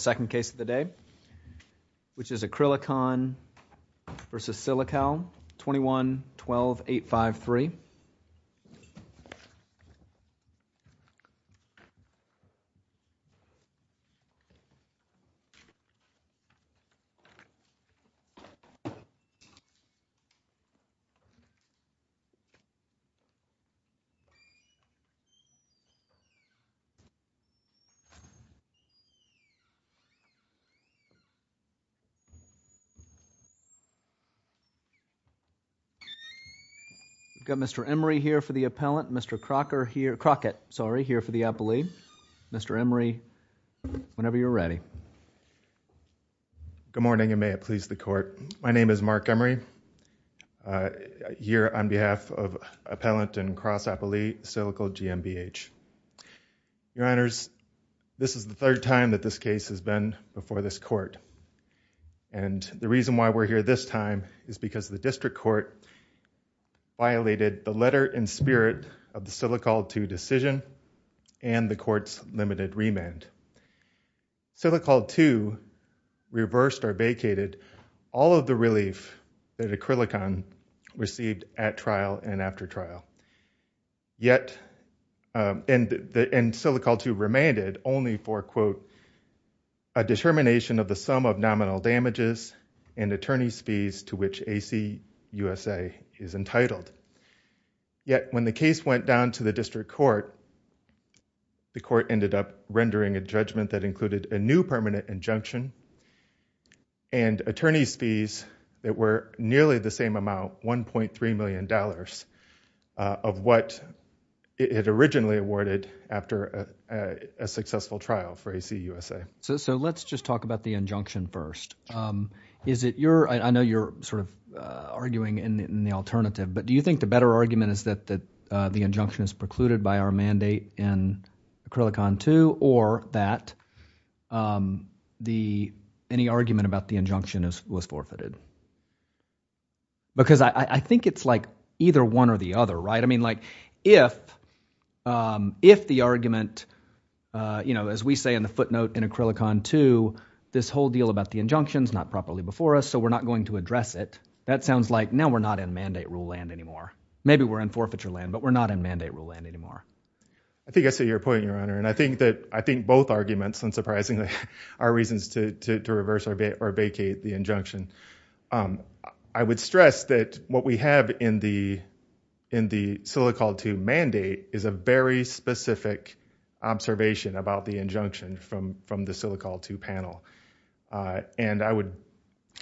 Second case of the day, which is Acrylicon v. Silikal, 21-12-853. We've got Mr. Emery here for the Appellant, Mr. Crockett here for the Appellee. Mr. Emery, whenever you're ready. Good morning, and may it please the Court. My name is Mark Emery, here on behalf of Appellant and Cross Appellee, Silikal GmbH. Your Honors, this is the third time that this case has been before this Court, and the reason why we're here this time is because the District Court violated the letter in spirit of the Silikal 2 decision and the Court's limited remand. Silikal 2 reversed or vacated all of the relief that Acrylicon received at trial and after trial, and Silikal 2 remanded only for, quote, a determination of the sum of nominal damages and attorney's fees to which AC USA is entitled. Yet, when the case went down to the District Court, the Court ended up rendering a judgment that included a new of what it originally awarded after a successful trial for AC USA. So let's just talk about the injunction first. Is it your, I know you're sort of arguing in the alternative, but do you think the better argument is that the injunction is precluded by our mandate in Acrylicon 2, or that any argument about the injunction was forfeited? Because I think it's like either one or the other, right? I mean, like, if the argument, you know, as we say in the footnote in Acrylicon 2, this whole deal about the injunction's not properly before us, so we're not going to address it, that sounds like now we're not in mandate rule land anymore. Maybe we're in forfeiture land, but we're not in mandate rule land anymore. I think I see your point, Your Honor, and I think that, I think both arguments, unsurprisingly, are reasons to reverse or vacate the injunction. I would stress that what we have in the Silicol 2 mandate is a very specific observation about the injunction from the Silicol 2 panel, and I would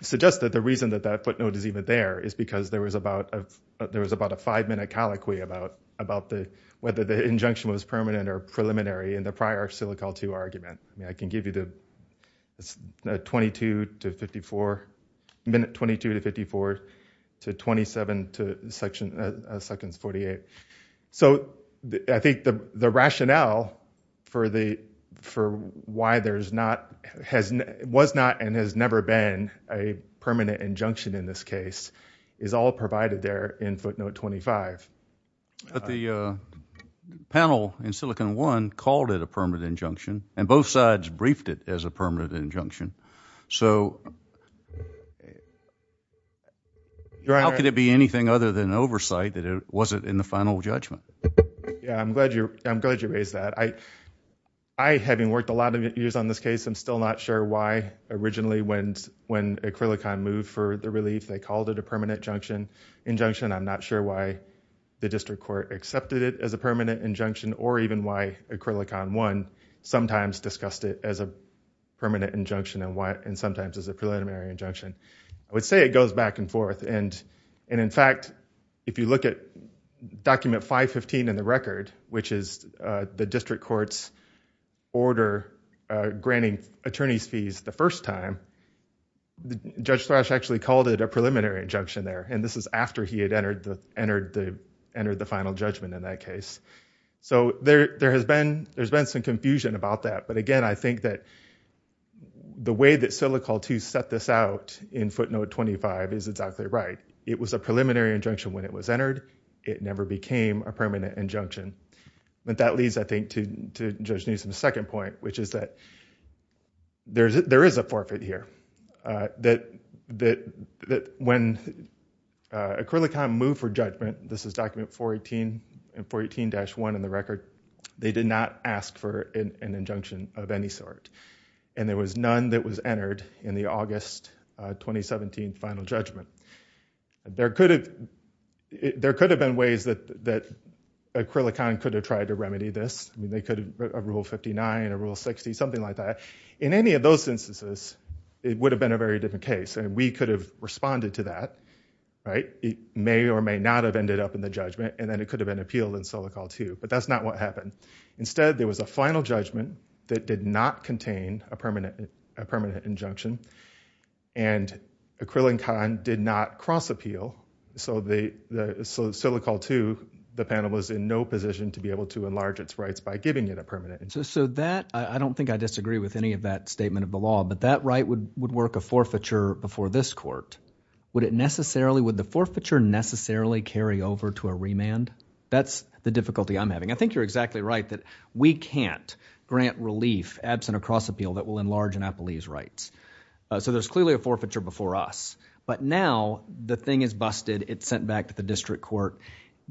suggest that the reason that that footnote is even there is because there was about a five-minute colloquy about whether the injunction was I mean, I can give you the 22 to 54, minute 22 to 54, to 27 to seconds 48. So I think the rationale for why there's not, was not, and has never been a permanent injunction in this case is all provided there in footnote 25. But the panel in Silicon One called it a permanent injunction, and both sides briefed it as a permanent injunction, so how could it be anything other than oversight that it wasn't in the final judgment? Yeah, I'm glad you raised that. I, having worked a lot of years on this case, I'm still not sure why originally when Acrylicon moved for the relief, they called it a permanent injunction. I'm not sure why the district court accepted it as a permanent injunction or even why Acrylicon One sometimes discussed it as a permanent injunction and sometimes as a preliminary injunction. I would say it goes back and forth, and in fact, if you look at document 515 in the record, which is the district court's order granting attorney's time, Judge Thrash actually called it a preliminary injunction there, and this is after he had entered the final judgment in that case. So there has been, there's been some confusion about that, but again, I think that the way that Silicon Two set this out in footnote 25 is exactly right. It was a preliminary injunction when it was entered. It never became a permanent injunction. But that leads, I think, to Judge Newsom's second point, which is that there is a forfeit here, that when Acrylicon moved for judgment, this is document 418 and 418-1 in the record, they did not ask for an injunction of any sort, and there was none that was entered in the August 2017 final judgment. There could have been ways that Acrylicon could have tried to remedy this. They could have, a Rule 59, a Rule 60, something like that. In any of those instances, it would have been a very different case, and we could have responded to that, right? It may or may not have ended up in the judgment, and then it could have been appealed in Silicon Two, but that's not what happened. Instead, there was a final judgment that did not contain a permanent injunction, and Acrylicon did not cross-appeal. So Silicon Two, the panel was in no position to be able to enlarge its rights by giving it a permanent injunction. So that, I don't think I disagree with any of that statement of the law, but that right would work a forfeiture before this court. Would it necessarily, would the forfeiture necessarily carry over to a remand? That's the difficulty I'm having. I think you're exactly right that we can't grant relief absent a cross-appeal that will enlarge an appellee's rights. So there's clearly a forfeiture before us. But now, the thing is busted, it's sent back to the district court.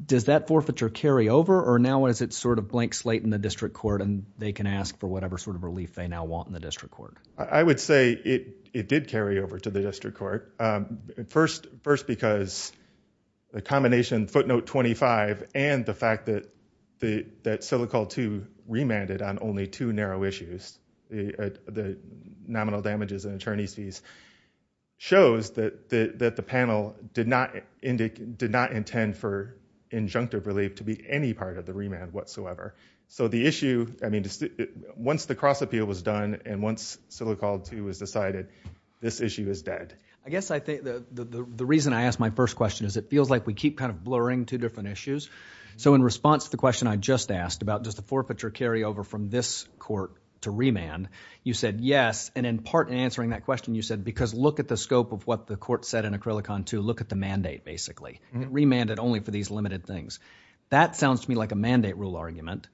Does that forfeiture carry over, or now is it sort of blank slate in the district court, and they can ask for whatever sort of relief they now want in the district court? I would say it did carry over to the district court. First, because the combination footnote 25 and the fact that Silicon Two remanded on only two narrow issues, the nominal damages and attorney's fees, shows that the panel did not intend for injunctive relief to be any part of the remand whatsoever. So the issue, I mean, once the cross-appeal was done and once Silicon Two was decided, this issue is dead. I guess I think the reason I asked my first question is it feels like we keep kind of two different issues. So in response to the question I just asked about does the forfeiture carry over from this court to remand, you said yes. And in part in answering that question, you said because look at the scope of what the court said in Acrylicon Two, look at the mandate basically. It remanded only for these limited things. That sounds to me like a mandate rule argument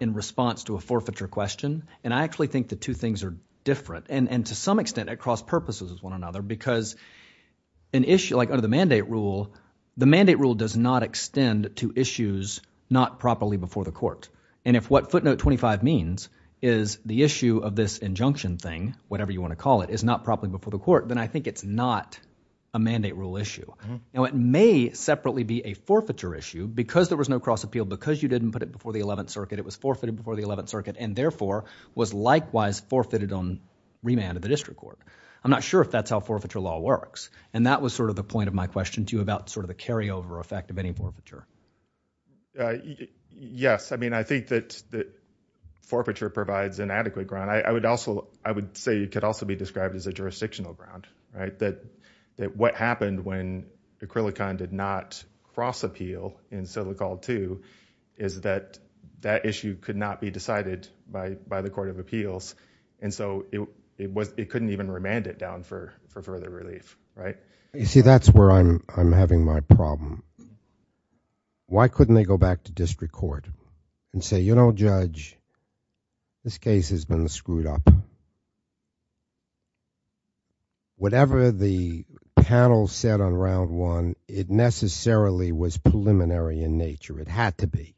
in response to a forfeiture question. And I actually think the two things are different. And to some extent, it cross-purposes with one another because an issue like under the mandate rule, the mandate rule does not extend to issues not properly before the court. And if what footnote 25 means is the issue of this injunction thing, whatever you want to call it, is not properly before the court, then I think it's not a mandate rule issue. Now, it may separately be a forfeiture issue because there was no cross-appeal because you didn't put it before the 11th Circuit. It was forfeited before the 11th Circuit and therefore was likewise forfeited on remand of the district court. I'm not sure if that's how forfeiture law works. And that was sort of the point of my question to you about sort of the carryover effect of any forfeiture. Yes. I mean, I think that forfeiture provides inadequate ground. I would say it could also be described as a jurisdictional ground, right? That what happened when Acrylicon did not cross-appeal in Silicon Two is that that issue could not be decided by the Court of Appeals. And so, it couldn't even remand it down for further relief, right? You see, that's where I'm having my problem. Why couldn't they go back to district court and say, you know, Judge, this case has been screwed up. Whatever the panel said on round one, it necessarily was preliminary in nature. It had to be.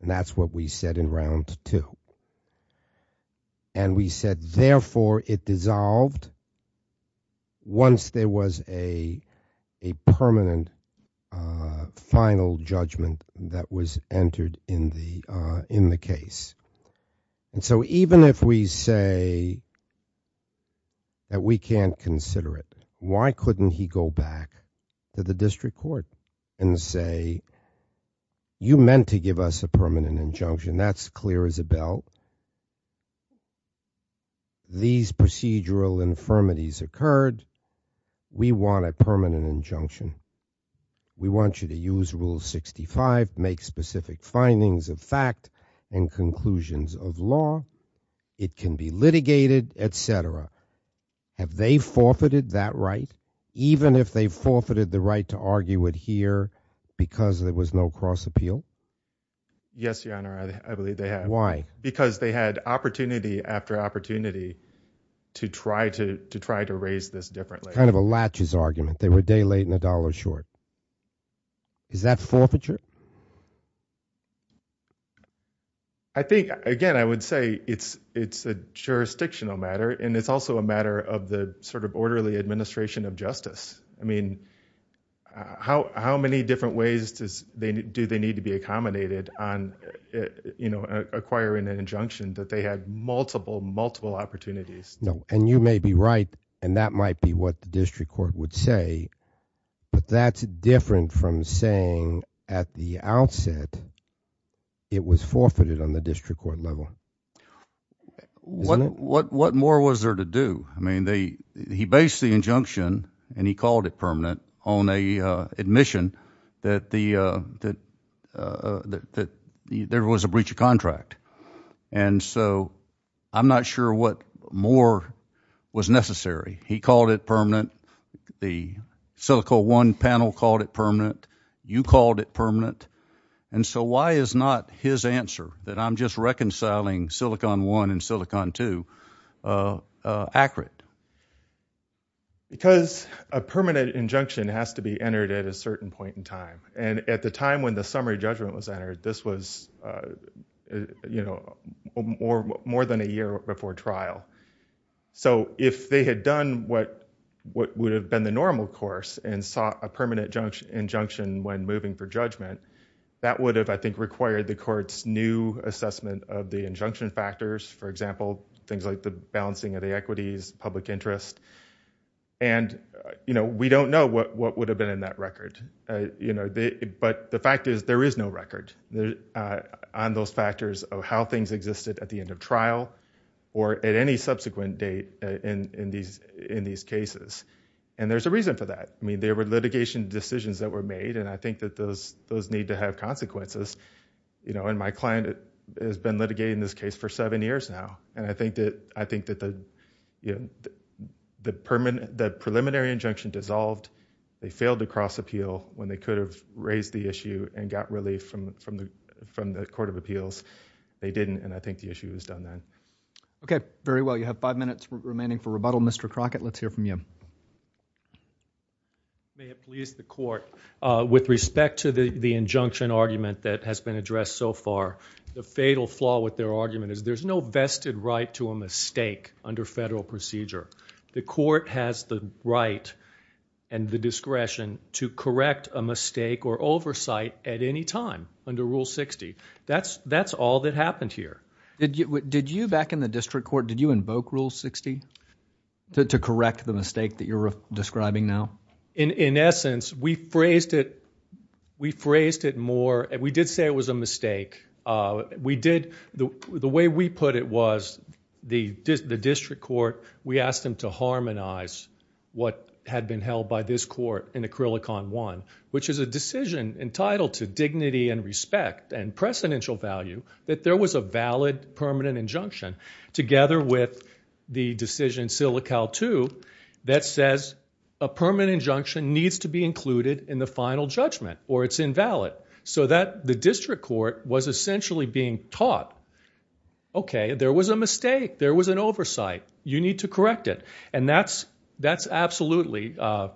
And that's what we said in round two. And we said, therefore, it dissolved once there was a permanent final judgment that was entered in the case. And so, even if we say that we can't consider it, why couldn't he go back to the district court and say, you meant to give us a permanent injunction. That's clear as a bell. These procedural infirmities occurred. We want a permanent injunction. We want you to use Rule 65, make specific findings of fact and conclusions of law. It can be litigated, etc. Have they forfeited that right, even if they forfeited the right to argue it here because there was no cross-appeal? Yes, Your Honor, I believe they have. Why? Because they had opportunity after opportunity to try to raise this differently. It's kind of a latches argument. They were a day late and a dollar short. Is that forfeiture? Again, I would say it's a jurisdictional matter, and it's also a matter of the sort of orderly administration of justice. I mean, how many different ways do they need to be accommodated on acquiring an injunction that they had multiple, multiple opportunities? And you may be right, and that might be what the district court would say, but that's different from saying at the outset it was forfeited on the district court level. What more was there to do? I mean, he based the injunction, and he called it permanent, on an admission that there was a breach of contract. And so I'm not sure what more was necessary. He called it permanent. The Silico One panel called it permanent. You called it permanent. And so why is not his answer that I'm just reconciling Silicon One and Silicon Two accurate? Because a permanent injunction has to be entered at a certain point in time. And at the time when the summary judgment was entered, this was, you know, more than a year before trial. So if they had done what would have been the normal course and sought a permanent injunction when moving for judgment, that would have, I think, required the court's new assessment of the injunction factors, for example, things like the balancing of the equities, public interest. And, you know, we don't know what would have been in that record. You know, but the fact is there is no record on those factors of how things existed at the end of trial or at any subsequent date in these cases. And there's a reason for that. I mean, there is a need. And I think that those need to have consequences. You know, and my client has been litigating this case for seven years now. And I think that the preliminary injunction dissolved. They failed to cross appeal when they could have raised the issue and got relief from the Court of Appeals. They didn't. And I think the issue was done then. Okay. Very well. You have five minutes remaining for rebuttal. Mr. Crockett, let's hear from you. May it please the Court, with respect to the injunction argument that has been addressed so far, the fatal flaw with their argument is there's no vested right to a mistake under federal procedure. The court has the right and the discretion to correct a mistake or oversight at any time under Rule 60. That's all that happened here. Did you, back in the district court, did you invoke Rule 60 to correct the mistake that you're describing now? In essence, we phrased it, we phrased it more, we did say it was a mistake. We did, the way we put it was, the district court, we asked them to harmonize what had been held by this court in Acrylicon 1, which is a decision entitled to dignity and respect and precedential value, that there was a valid permanent injunction, together with the decision in Silical 2, that says a permanent injunction needs to be included in the final judgment or it's invalid. So that the district court was essentially being taught, okay, there was a mistake, there was an oversight, you need to correct it. And that's, that's absolutely, uh,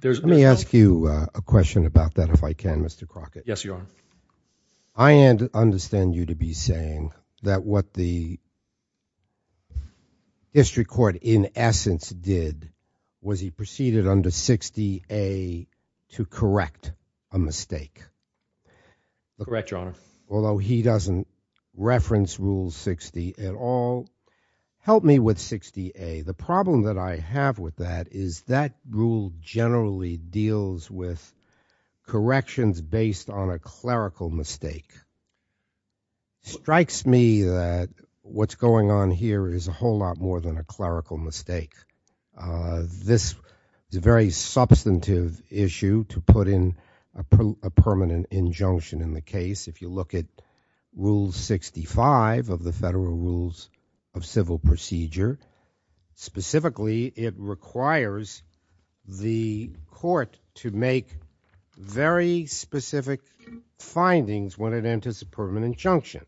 there's- Let me ask you a question about that if I can, Mr. Crockett. Yes, Your Honor. I understand you to be saying that what the district court, in essence, did was he preceded under 60A to correct a mistake. Correct, Your Honor. Although he doesn't reference Rule 60 at all. Help me with 60A. The problem that I have with that is that rule generally deals with corrections based on a clerical mistake. Strikes me that what's going on here is a whole lot more than a clerical mistake. This is a very substantive issue to put in a permanent injunction in the case. If you look at Rule 65 of the statute, it requires the court to make very specific findings when it enters a permanent injunction.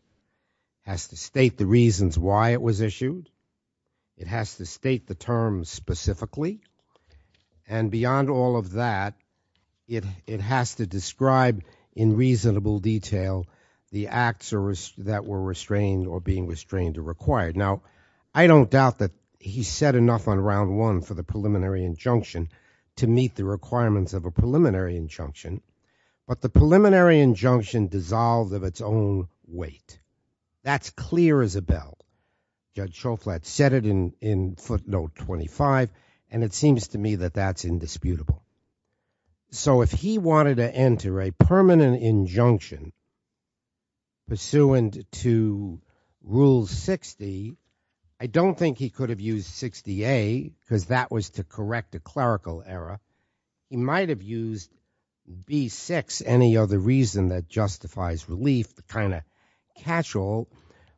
Has to state the reasons why it was issued. It has to state the terms specifically. And beyond all of that, it has to describe in reasonable detail the acts that were restrained or being restrained or required. Now, I don't doubt that he said enough on round one for the preliminary injunction to meet the requirements of a preliminary injunction. But the preliminary injunction dissolved of its own weight. That's clear as a bell. Judge Shoflat said it in footnote 25 and it seems to me that that's indisputable. So if he wanted to enter a permanent injunction pursuant to Rule 60, I don't think he could have used 60A because that would have caused to correct a clerical error. He might have used B6, any other reason that justifies relief, the kind of catch-all.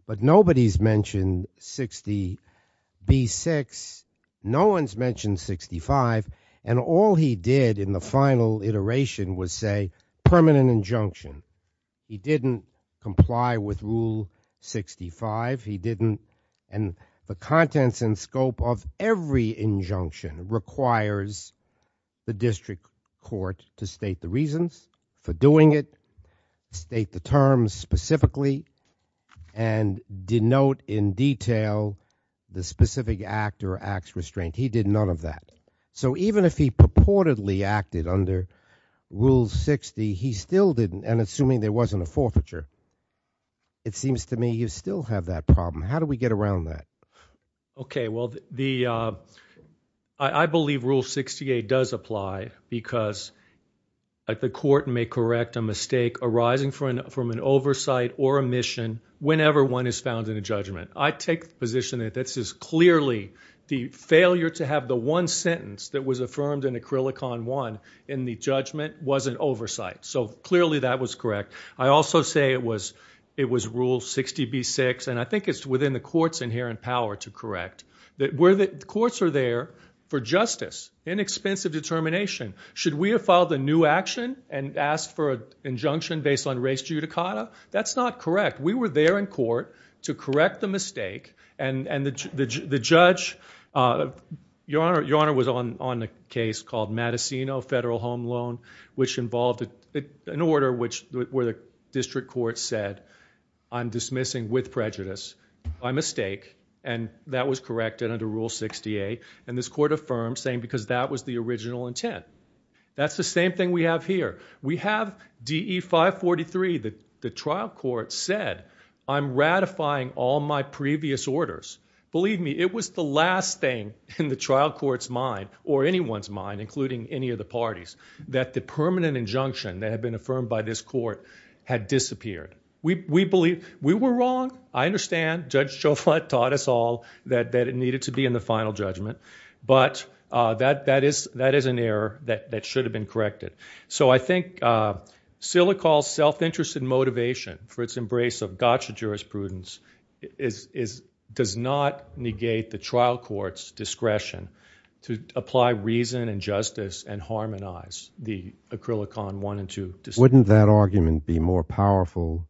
But nobody's mentioned 60B6. No one's mentioned 65. And all he did in the final iteration was say permanent injunction. He didn't comply with Rule 65. He didn't and the contents and scope of every injunction requires the district court to state the reasons for doing it, state the terms specifically, and denote in detail the specific act or acts restrained. He did none of that. So even if he purportedly acted under Rule 60, he still didn't and assuming there wasn't a forfeiture, it seems to me you still have that problem. How do we get around that? Okay. Well, I believe Rule 68 does apply because the court may correct a mistake arising from an oversight or omission whenever one is found in a judgment. I take the position that this is clearly the failure to have the one sentence that was affirmed in Acrylicon I in the judgment was an oversight. So clearly that was correct. I also say it was Rule 60B6 and I think it's within the court's inherent power to correct. Courts are there for justice, inexpensive determination. Should we have filed a new action and asked for an injunction based on res judicata? That's not correct. We were there in court to correct the mistake and the judge, your Honor was on a case called Matasino Federal Home Loan which involved an order where the district court said I'm dismissing with prejudice by mistake and that was corrected under Rule 68 and this court affirmed saying because that was the original intent. That's the same thing we have here. We have DE 543, the trial court said I'm ratifying all my previous orders. Believe me, it was the last thing in the trial court's mind or anyone's mind including any of the parties that the permanent injunction that had been affirmed by this court had disappeared. We believe we were wrong. I understand Judge Chauvet taught us all that it needed to be in the final judgment but that is an error that should have been corrected. So I think Silicon's self-interest and motivation for its embrace of gotcha jurisprudence does not negate the trial court's discretion to apply reason and justice and harmonize the Acrylicon 1 and 2. Wouldn't that argument be more powerful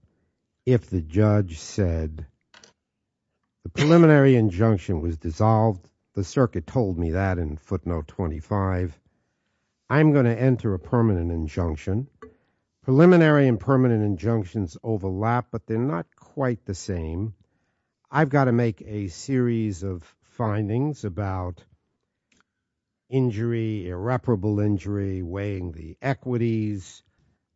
if the judge said the preliminary injunction was dissolved? The circuit told me that in footnote 25. I'm going to enter a permanent injunction. Preliminary and permanent injunctions overlap but they're not quite the same. I've got to make a series of findings about injury, irreparable injury, weighing the equities,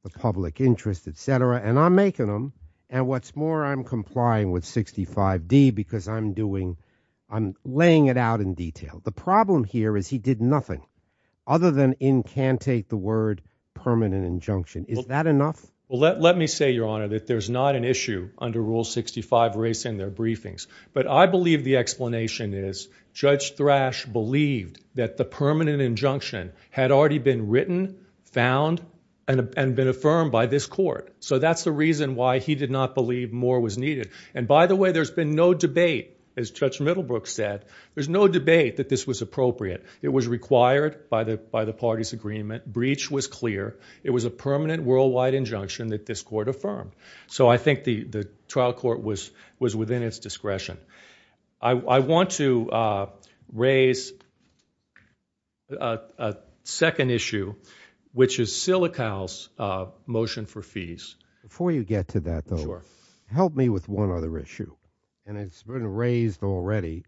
the public interest, etc. and I'm making them and what's more I'm complying with 65D because I'm doing, I'm laying it out in detail. The problem here is he did nothing other than incantate the word permanent injunction. Is that enough? Well let me say your honor that there's not an issue under Rule 65 raised in their briefings but I believe the explanation is Judge Thrash believed that the permanent injunction had already been written, found, and been affirmed by this court. So that's the reason why he did not believe more was needed. And by the way there's been no debate, as Judge Middlebrook said, there's no debate that this was appropriate. It was required by the party's agreement. Breach was clear. It was a permanent worldwide injunction that this court affirmed. So I think the trial court was within its discretion. I want to raise a second issue which is Silicow's motion for fees. Before you get to that though, help me with one other issue. And it's been raised already.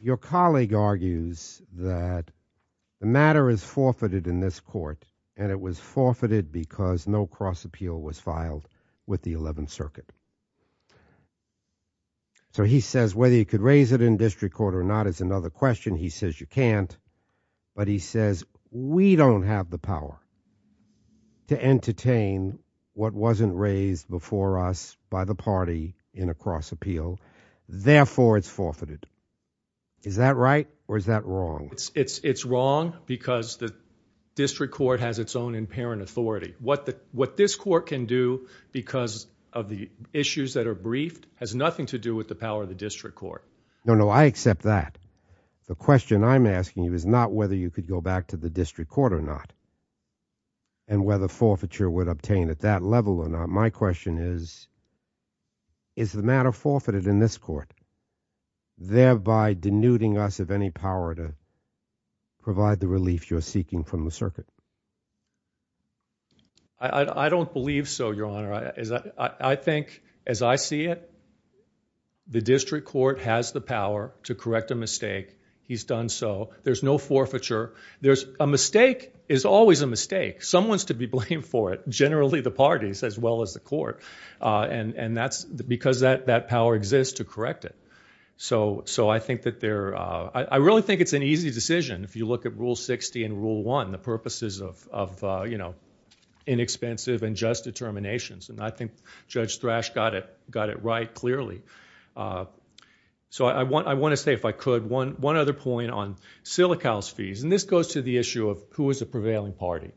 Your colleague argues that the matter is forfeited in this court and it was forfeited because no cross appeal was filed with the 11th Circuit. So he says whether you could raise it in district court or not is another question. He says you can't. But he says we don't have the power to entertain what wasn't raised before us by the party in a cross appeal. Therefore it's forfeited. Is that right or is that wrong? It's wrong because the district court has its own in parent authority. What this court can do because of the issues that are briefed has nothing to do with the power of the district court. No, no, I accept that. The question I'm asking you is not whether you could go back to the district court or not and whether forfeiture would obtain at that level or not. My question is, is the matter forfeited in this court thereby denuding us of any power to provide the relief you're seeking from the circuit? I don't believe so, Your Honor. I think as I see it, the district court has the power to correct a mistake. He's done so. There's no forfeiture. A mistake is always a mistake. Someone is to be blamed for it, generally the parties as well as the court. And that's because that power exists to correct it. So I think that they're, I really think it's an easy decision if you look at Rule 60 and Rule 1, the purposes of inexpensive and just determinations. And I think Judge Thrash got it right clearly. So I want to say, if I could, one other point on Silical's fees. And this goes to the issue of who is the prevailing party.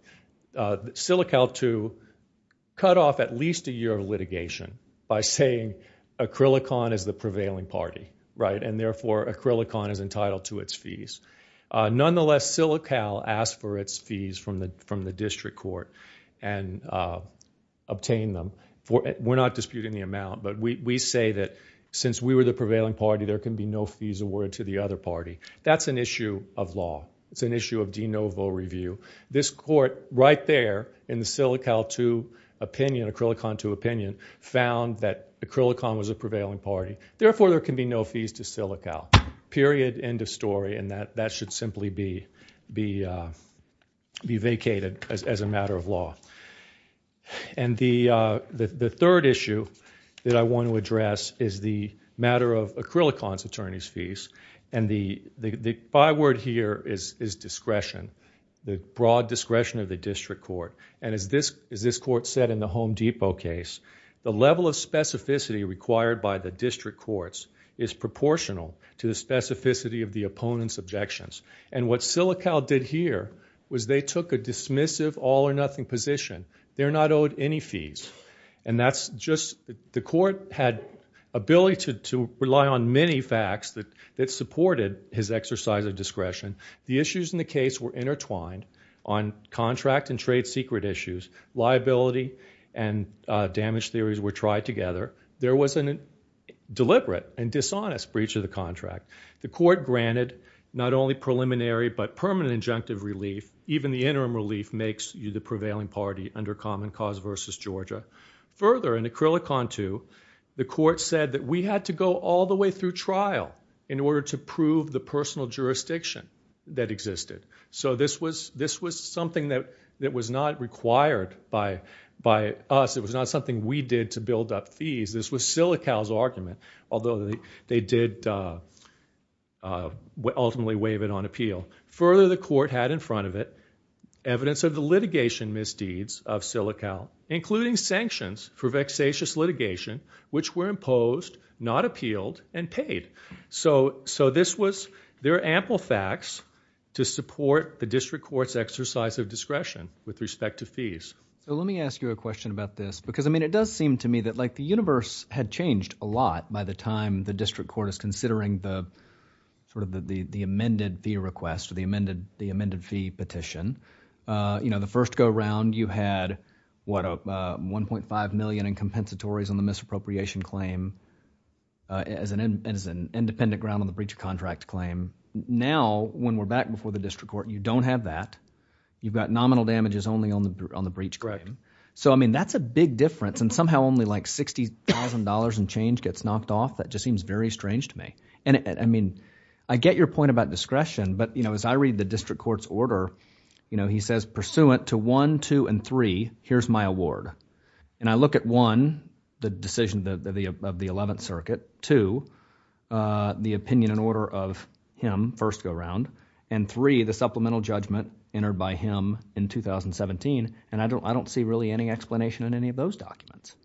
Silical, too, cut off at least a year of litigation by saying Acrylicon is the prevailing party, right? And therefore Acrylicon is entitled to its fees. Nonetheless, Silical asked for its fees from the district court and obtained them. We're not disputing the amount, but we say that since we were the prevailing party, there can be no fees awarded to the other party. That's an issue of law. It's an issue of de novo review. This court, right there in the Silical 2 opinion, Acrylicon 2 opinion, found that Acrylicon was the prevailing party. Therefore, there can be no fees to Silical. Period, end of story. And that should simply be vacated as a matter of law. And the third issue that I want to address is the matter of Acrylicon's attorney's fees. And the byword here is discretion. The broad discretion of the district court. And as this court said in the Home Depot case, the level of specificity required by the district courts is proportional to the specificity of the opponent's objections. And what Silical did here was they took a dismissive, all or nothing position. They're not owed any fees. And that's just the court had ability to rely on many facts that supported his exercise of discretion. The issues in the case were intertwined on contract and trade secret issues. Liability and damage theories were tried together. There was a deliberate and dishonest breach of the perspective relief. Even the interim relief makes you the prevailing party under Common Cause versus Georgia. Further, in Acrylicon 2, the court said that we had to go all the way through trial in order to prove the personal jurisdiction that existed. So this was something that was not required by us. It was not something we did to build up fees. This was Silical's had in front of it evidence of the litigation misdeeds of Silical, including sanctions for vexatious litigation, which were imposed, not appealed, and paid. So this was, there are ample facts to support the district court's exercise of discretion with respect to fees. So let me ask you a question about this. Because, I mean, it does seem to me that like the universe had changed a lot by the time the district court is considering the sort of the amended fee request, the amended fee petition. You know, the first go around you had, what, 1.5 million in compensatories on the misappropriation claim as an independent ground on the breach of contract claim. Now, when we're back before the district court, you don't have that. You've got nominal damages only on the breach claim. So, I mean, that's a big difference. And somehow only like $60,000 in change gets knocked off. That just seems very strange to me. And, I mean, I get your point about discretion. But, you know, as I read the district court's order, you know, he says pursuant to one, two, and three, here's my award. And I look at one, the decision of the 11th Circuit. Two, the opinion and order of him, first go around. And three, the supplemental judgment entered by him in 2017. And I don't see really any explanation in any of those documents.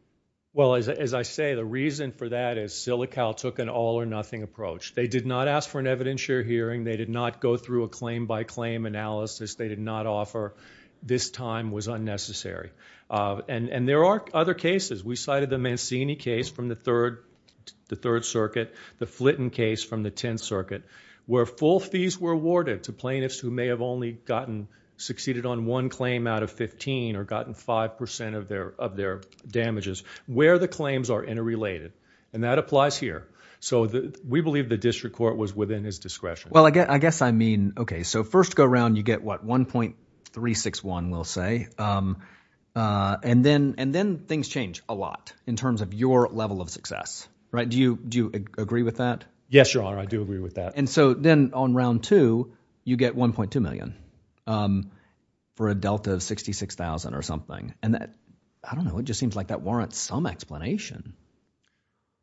Well, as I say, the reason for that is Silical took an all or nothing approach. They did not ask for an evidentiary hearing. They did not go through a claim-by-claim analysis. They did not offer this time was unnecessary. And there are other cases. We cited the Mancini case from the Third Circuit, the Flitten case from the 10th Circuit, where full fees were awarded to plaintiffs who may have only gotten, succeeded on one claim out of 15 or gotten 5% of their damages, where the claims are interrelated. And that applies here. So, we believe the district court was within his discretion. Well, I guess I mean, okay, so first go around, you get what, 1.361, we'll say. And then things change a lot in terms of your level of success, right? Do you agree with that? Yes, Your Honor, I do agree with that. And so then on round two, you get 1.2 million for a delta of 66,000 or something. And that, I don't know, it just seems like that warrants some explanation.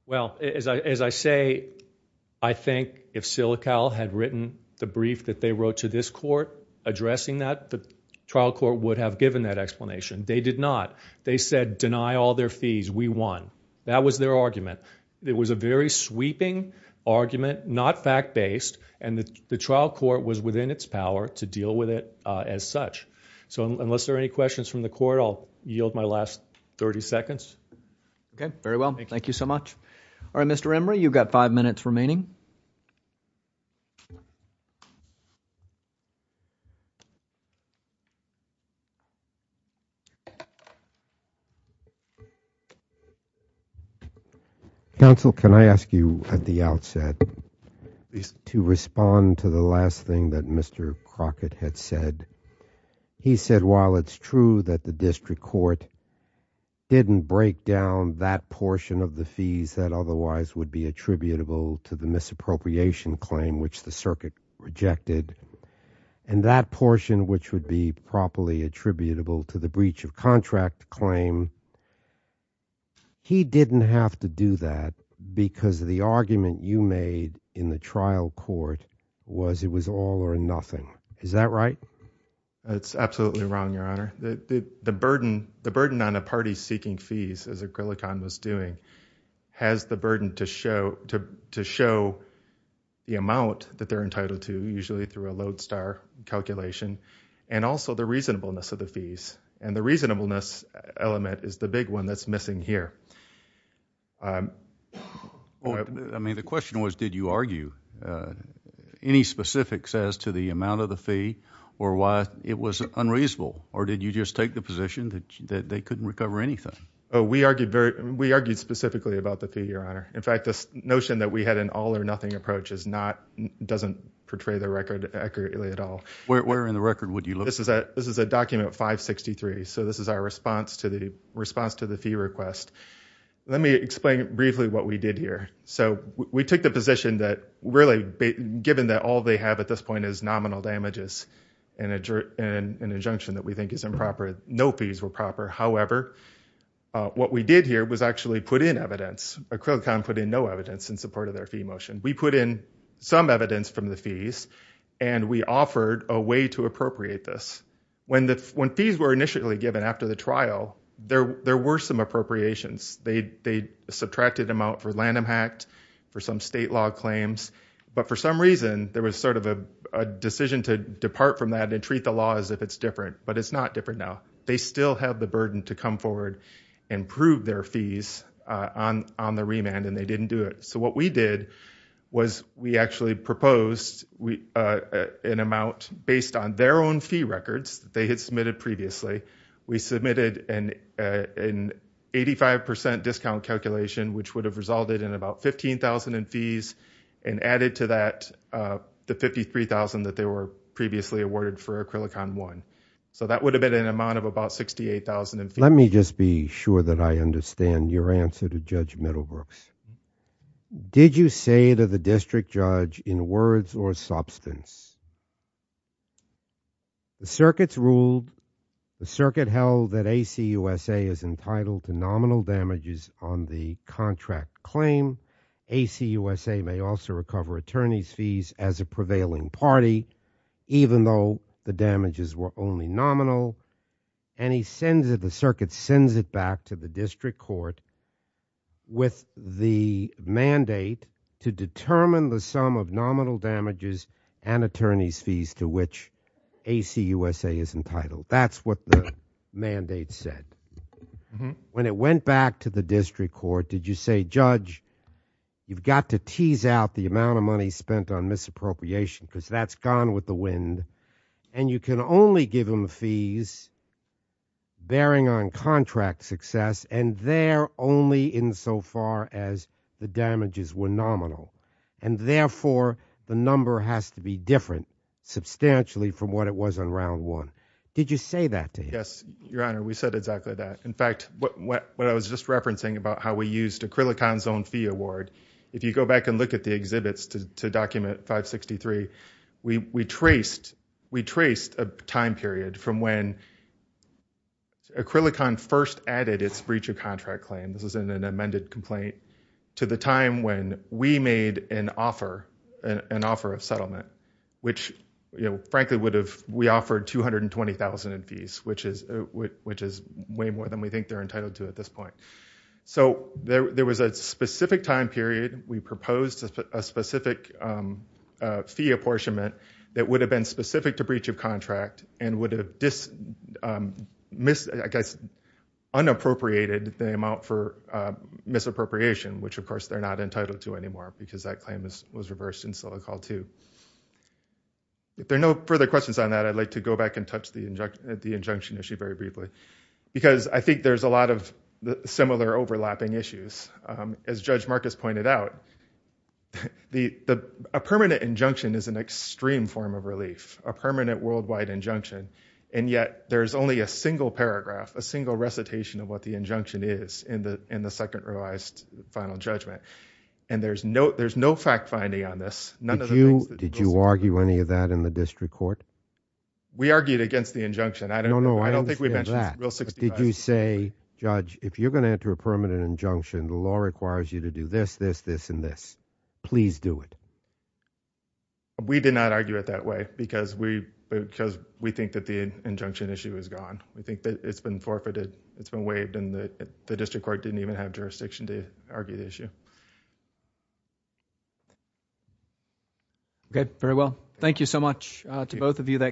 Well, as I say, I think if Silical had written the brief that they wrote to this court addressing that, the trial court would have given that explanation. They did not. They said, deny all their fees, we won. That was their argument. It was a very sweeping argument, not fact-based, and the trial court was within its power to deal with it as such. So, unless there are any questions from the court, I'll yield my last 30 seconds. Yes. Okay, very well. Thank you so much. All right, Mr. Emory, you've got five minutes remaining. Counsel, can I ask you at the outset to respond to the last thing that Mr. Crockett had said? He said, while it's true that the district court didn't break down that portion of the fees that otherwise would be attributable to the misappropriation claim, which the circuit rejected, and that portion which would be properly attributable to the breach of contract claim, he didn't have to do that because the argument you made in the trial court was it was all or nothing. Is that right? It's absolutely wrong, Your Honor. The burden on a party seeking fees, as Acrylicon was doing, has the burden to show the amount that they're entitled to, usually through a load star calculation, and also the reasonableness of the fees. And the reasonableness element is the big one that's missing here. I mean, the question was, did you argue any specifics as to the amount of the fee or why it was unreasonable? Or did you just take the position that they couldn't recover anything? We argued specifically about the fee, Your Honor. In fact, this notion that we had an all or nothing approach doesn't portray the record accurately at all. Where in the record would you look? This is a document 563, so this is our response to the fee request. Let me explain briefly what we did here. So we took the position that really, given that all they have at this point is nominal damages and an injunction that we think is improper, no fees were proper. However, what we did here was actually put in evidence. Acrylicon put in no evidence in support of their fee motion. We put in some evidence from the fees, and we offered a way to appropriate this. When fees were initially given after the trial, there were some appropriations. They subtracted amount for Lanham Act, for some state law claims. But for some reason, there was sort of a decision to depart from that and treat the law as if it's different. But it's not different now. They still have the burden to come forward and prove their fees on the remand, and they didn't do it. So what we did was we actually proposed an amount based on their own fee records that they had submitted previously. We submitted an 85% discount calculation, which would have resulted in about $15,000 in fees, and added to that the $53,000 that they were previously awarded for Acrylicon 1. So that would have been an amount of about $68,000 in fees. Let me just be sure that I understand your answer to Judge Middlebrooks. Did you say to the district judge in words or substance, the circuit's ruled, the circuit held that ACUSA is entitled to nominal damages on the contract claim. ACUSA may also recover attorney's fees as a prevailing party, even though the damages were only nominal. And he sends it back to the district court with the mandate to determine the sum of nominal damages and attorney's fees to which ACUSA is entitled. That's what the mandate said. When it went back to the district court, did you say, Judge, you've got to tease out the amount of money spent on misappropriation, because that's gone with the wind, and you can only give them fees bearing on contract success, and they're only insofar as the damages were nominal. And therefore, the number has to be different substantially from what it was on Round 1. Did you say that to him? Yes, Your Honor, we said exactly that. In fact, what I was just referencing about how we used Acrylicon's own fee award, if you go back and look at the exhibits to document 563, we traced a time period from when Acrylicon first added its breach of contract claim, this was in an amended complaint, to the time when we made an offer, an offer of settlement, which frankly, we offered 220,000 in fees, which is way more than we think they're entitled to at this point. So there was a specific time period, we proposed a specific fee apportionment that would have been specific to breach of contract, and would have, I guess, unappropriated the amount for misappropriation, which of course, they're not entitled to anymore, because that claim was reversed in Silicon Valley too. If there are no further questions on that, I'd like to go back and touch the injunction issue very briefly, because I think there's a lot of similar overlapping issues. As Judge Marcus pointed out, a permanent injunction is an extreme form of relief, a permanent worldwide injunction, and yet, there's only a single paragraph, a single recitation of what the injunction is in the second revised final judgment, and there's no fact-finding on this, none of the things that goes on there. Did you argue any of that in the district court? We argued against the injunction, I don't think we mentioned it, it's in Rule 65. Did you say, Judge, if you're going to enter a permanent injunction, the law requires you to do this, this, this, and this. Please do it. We did not argue it that way, because we think that the injunction issue is gone. We think that it's been forfeited, it's been waived, and the district court didn't even have jurisdiction to argue the issue. Okay, very well. Thank you so much to both of you.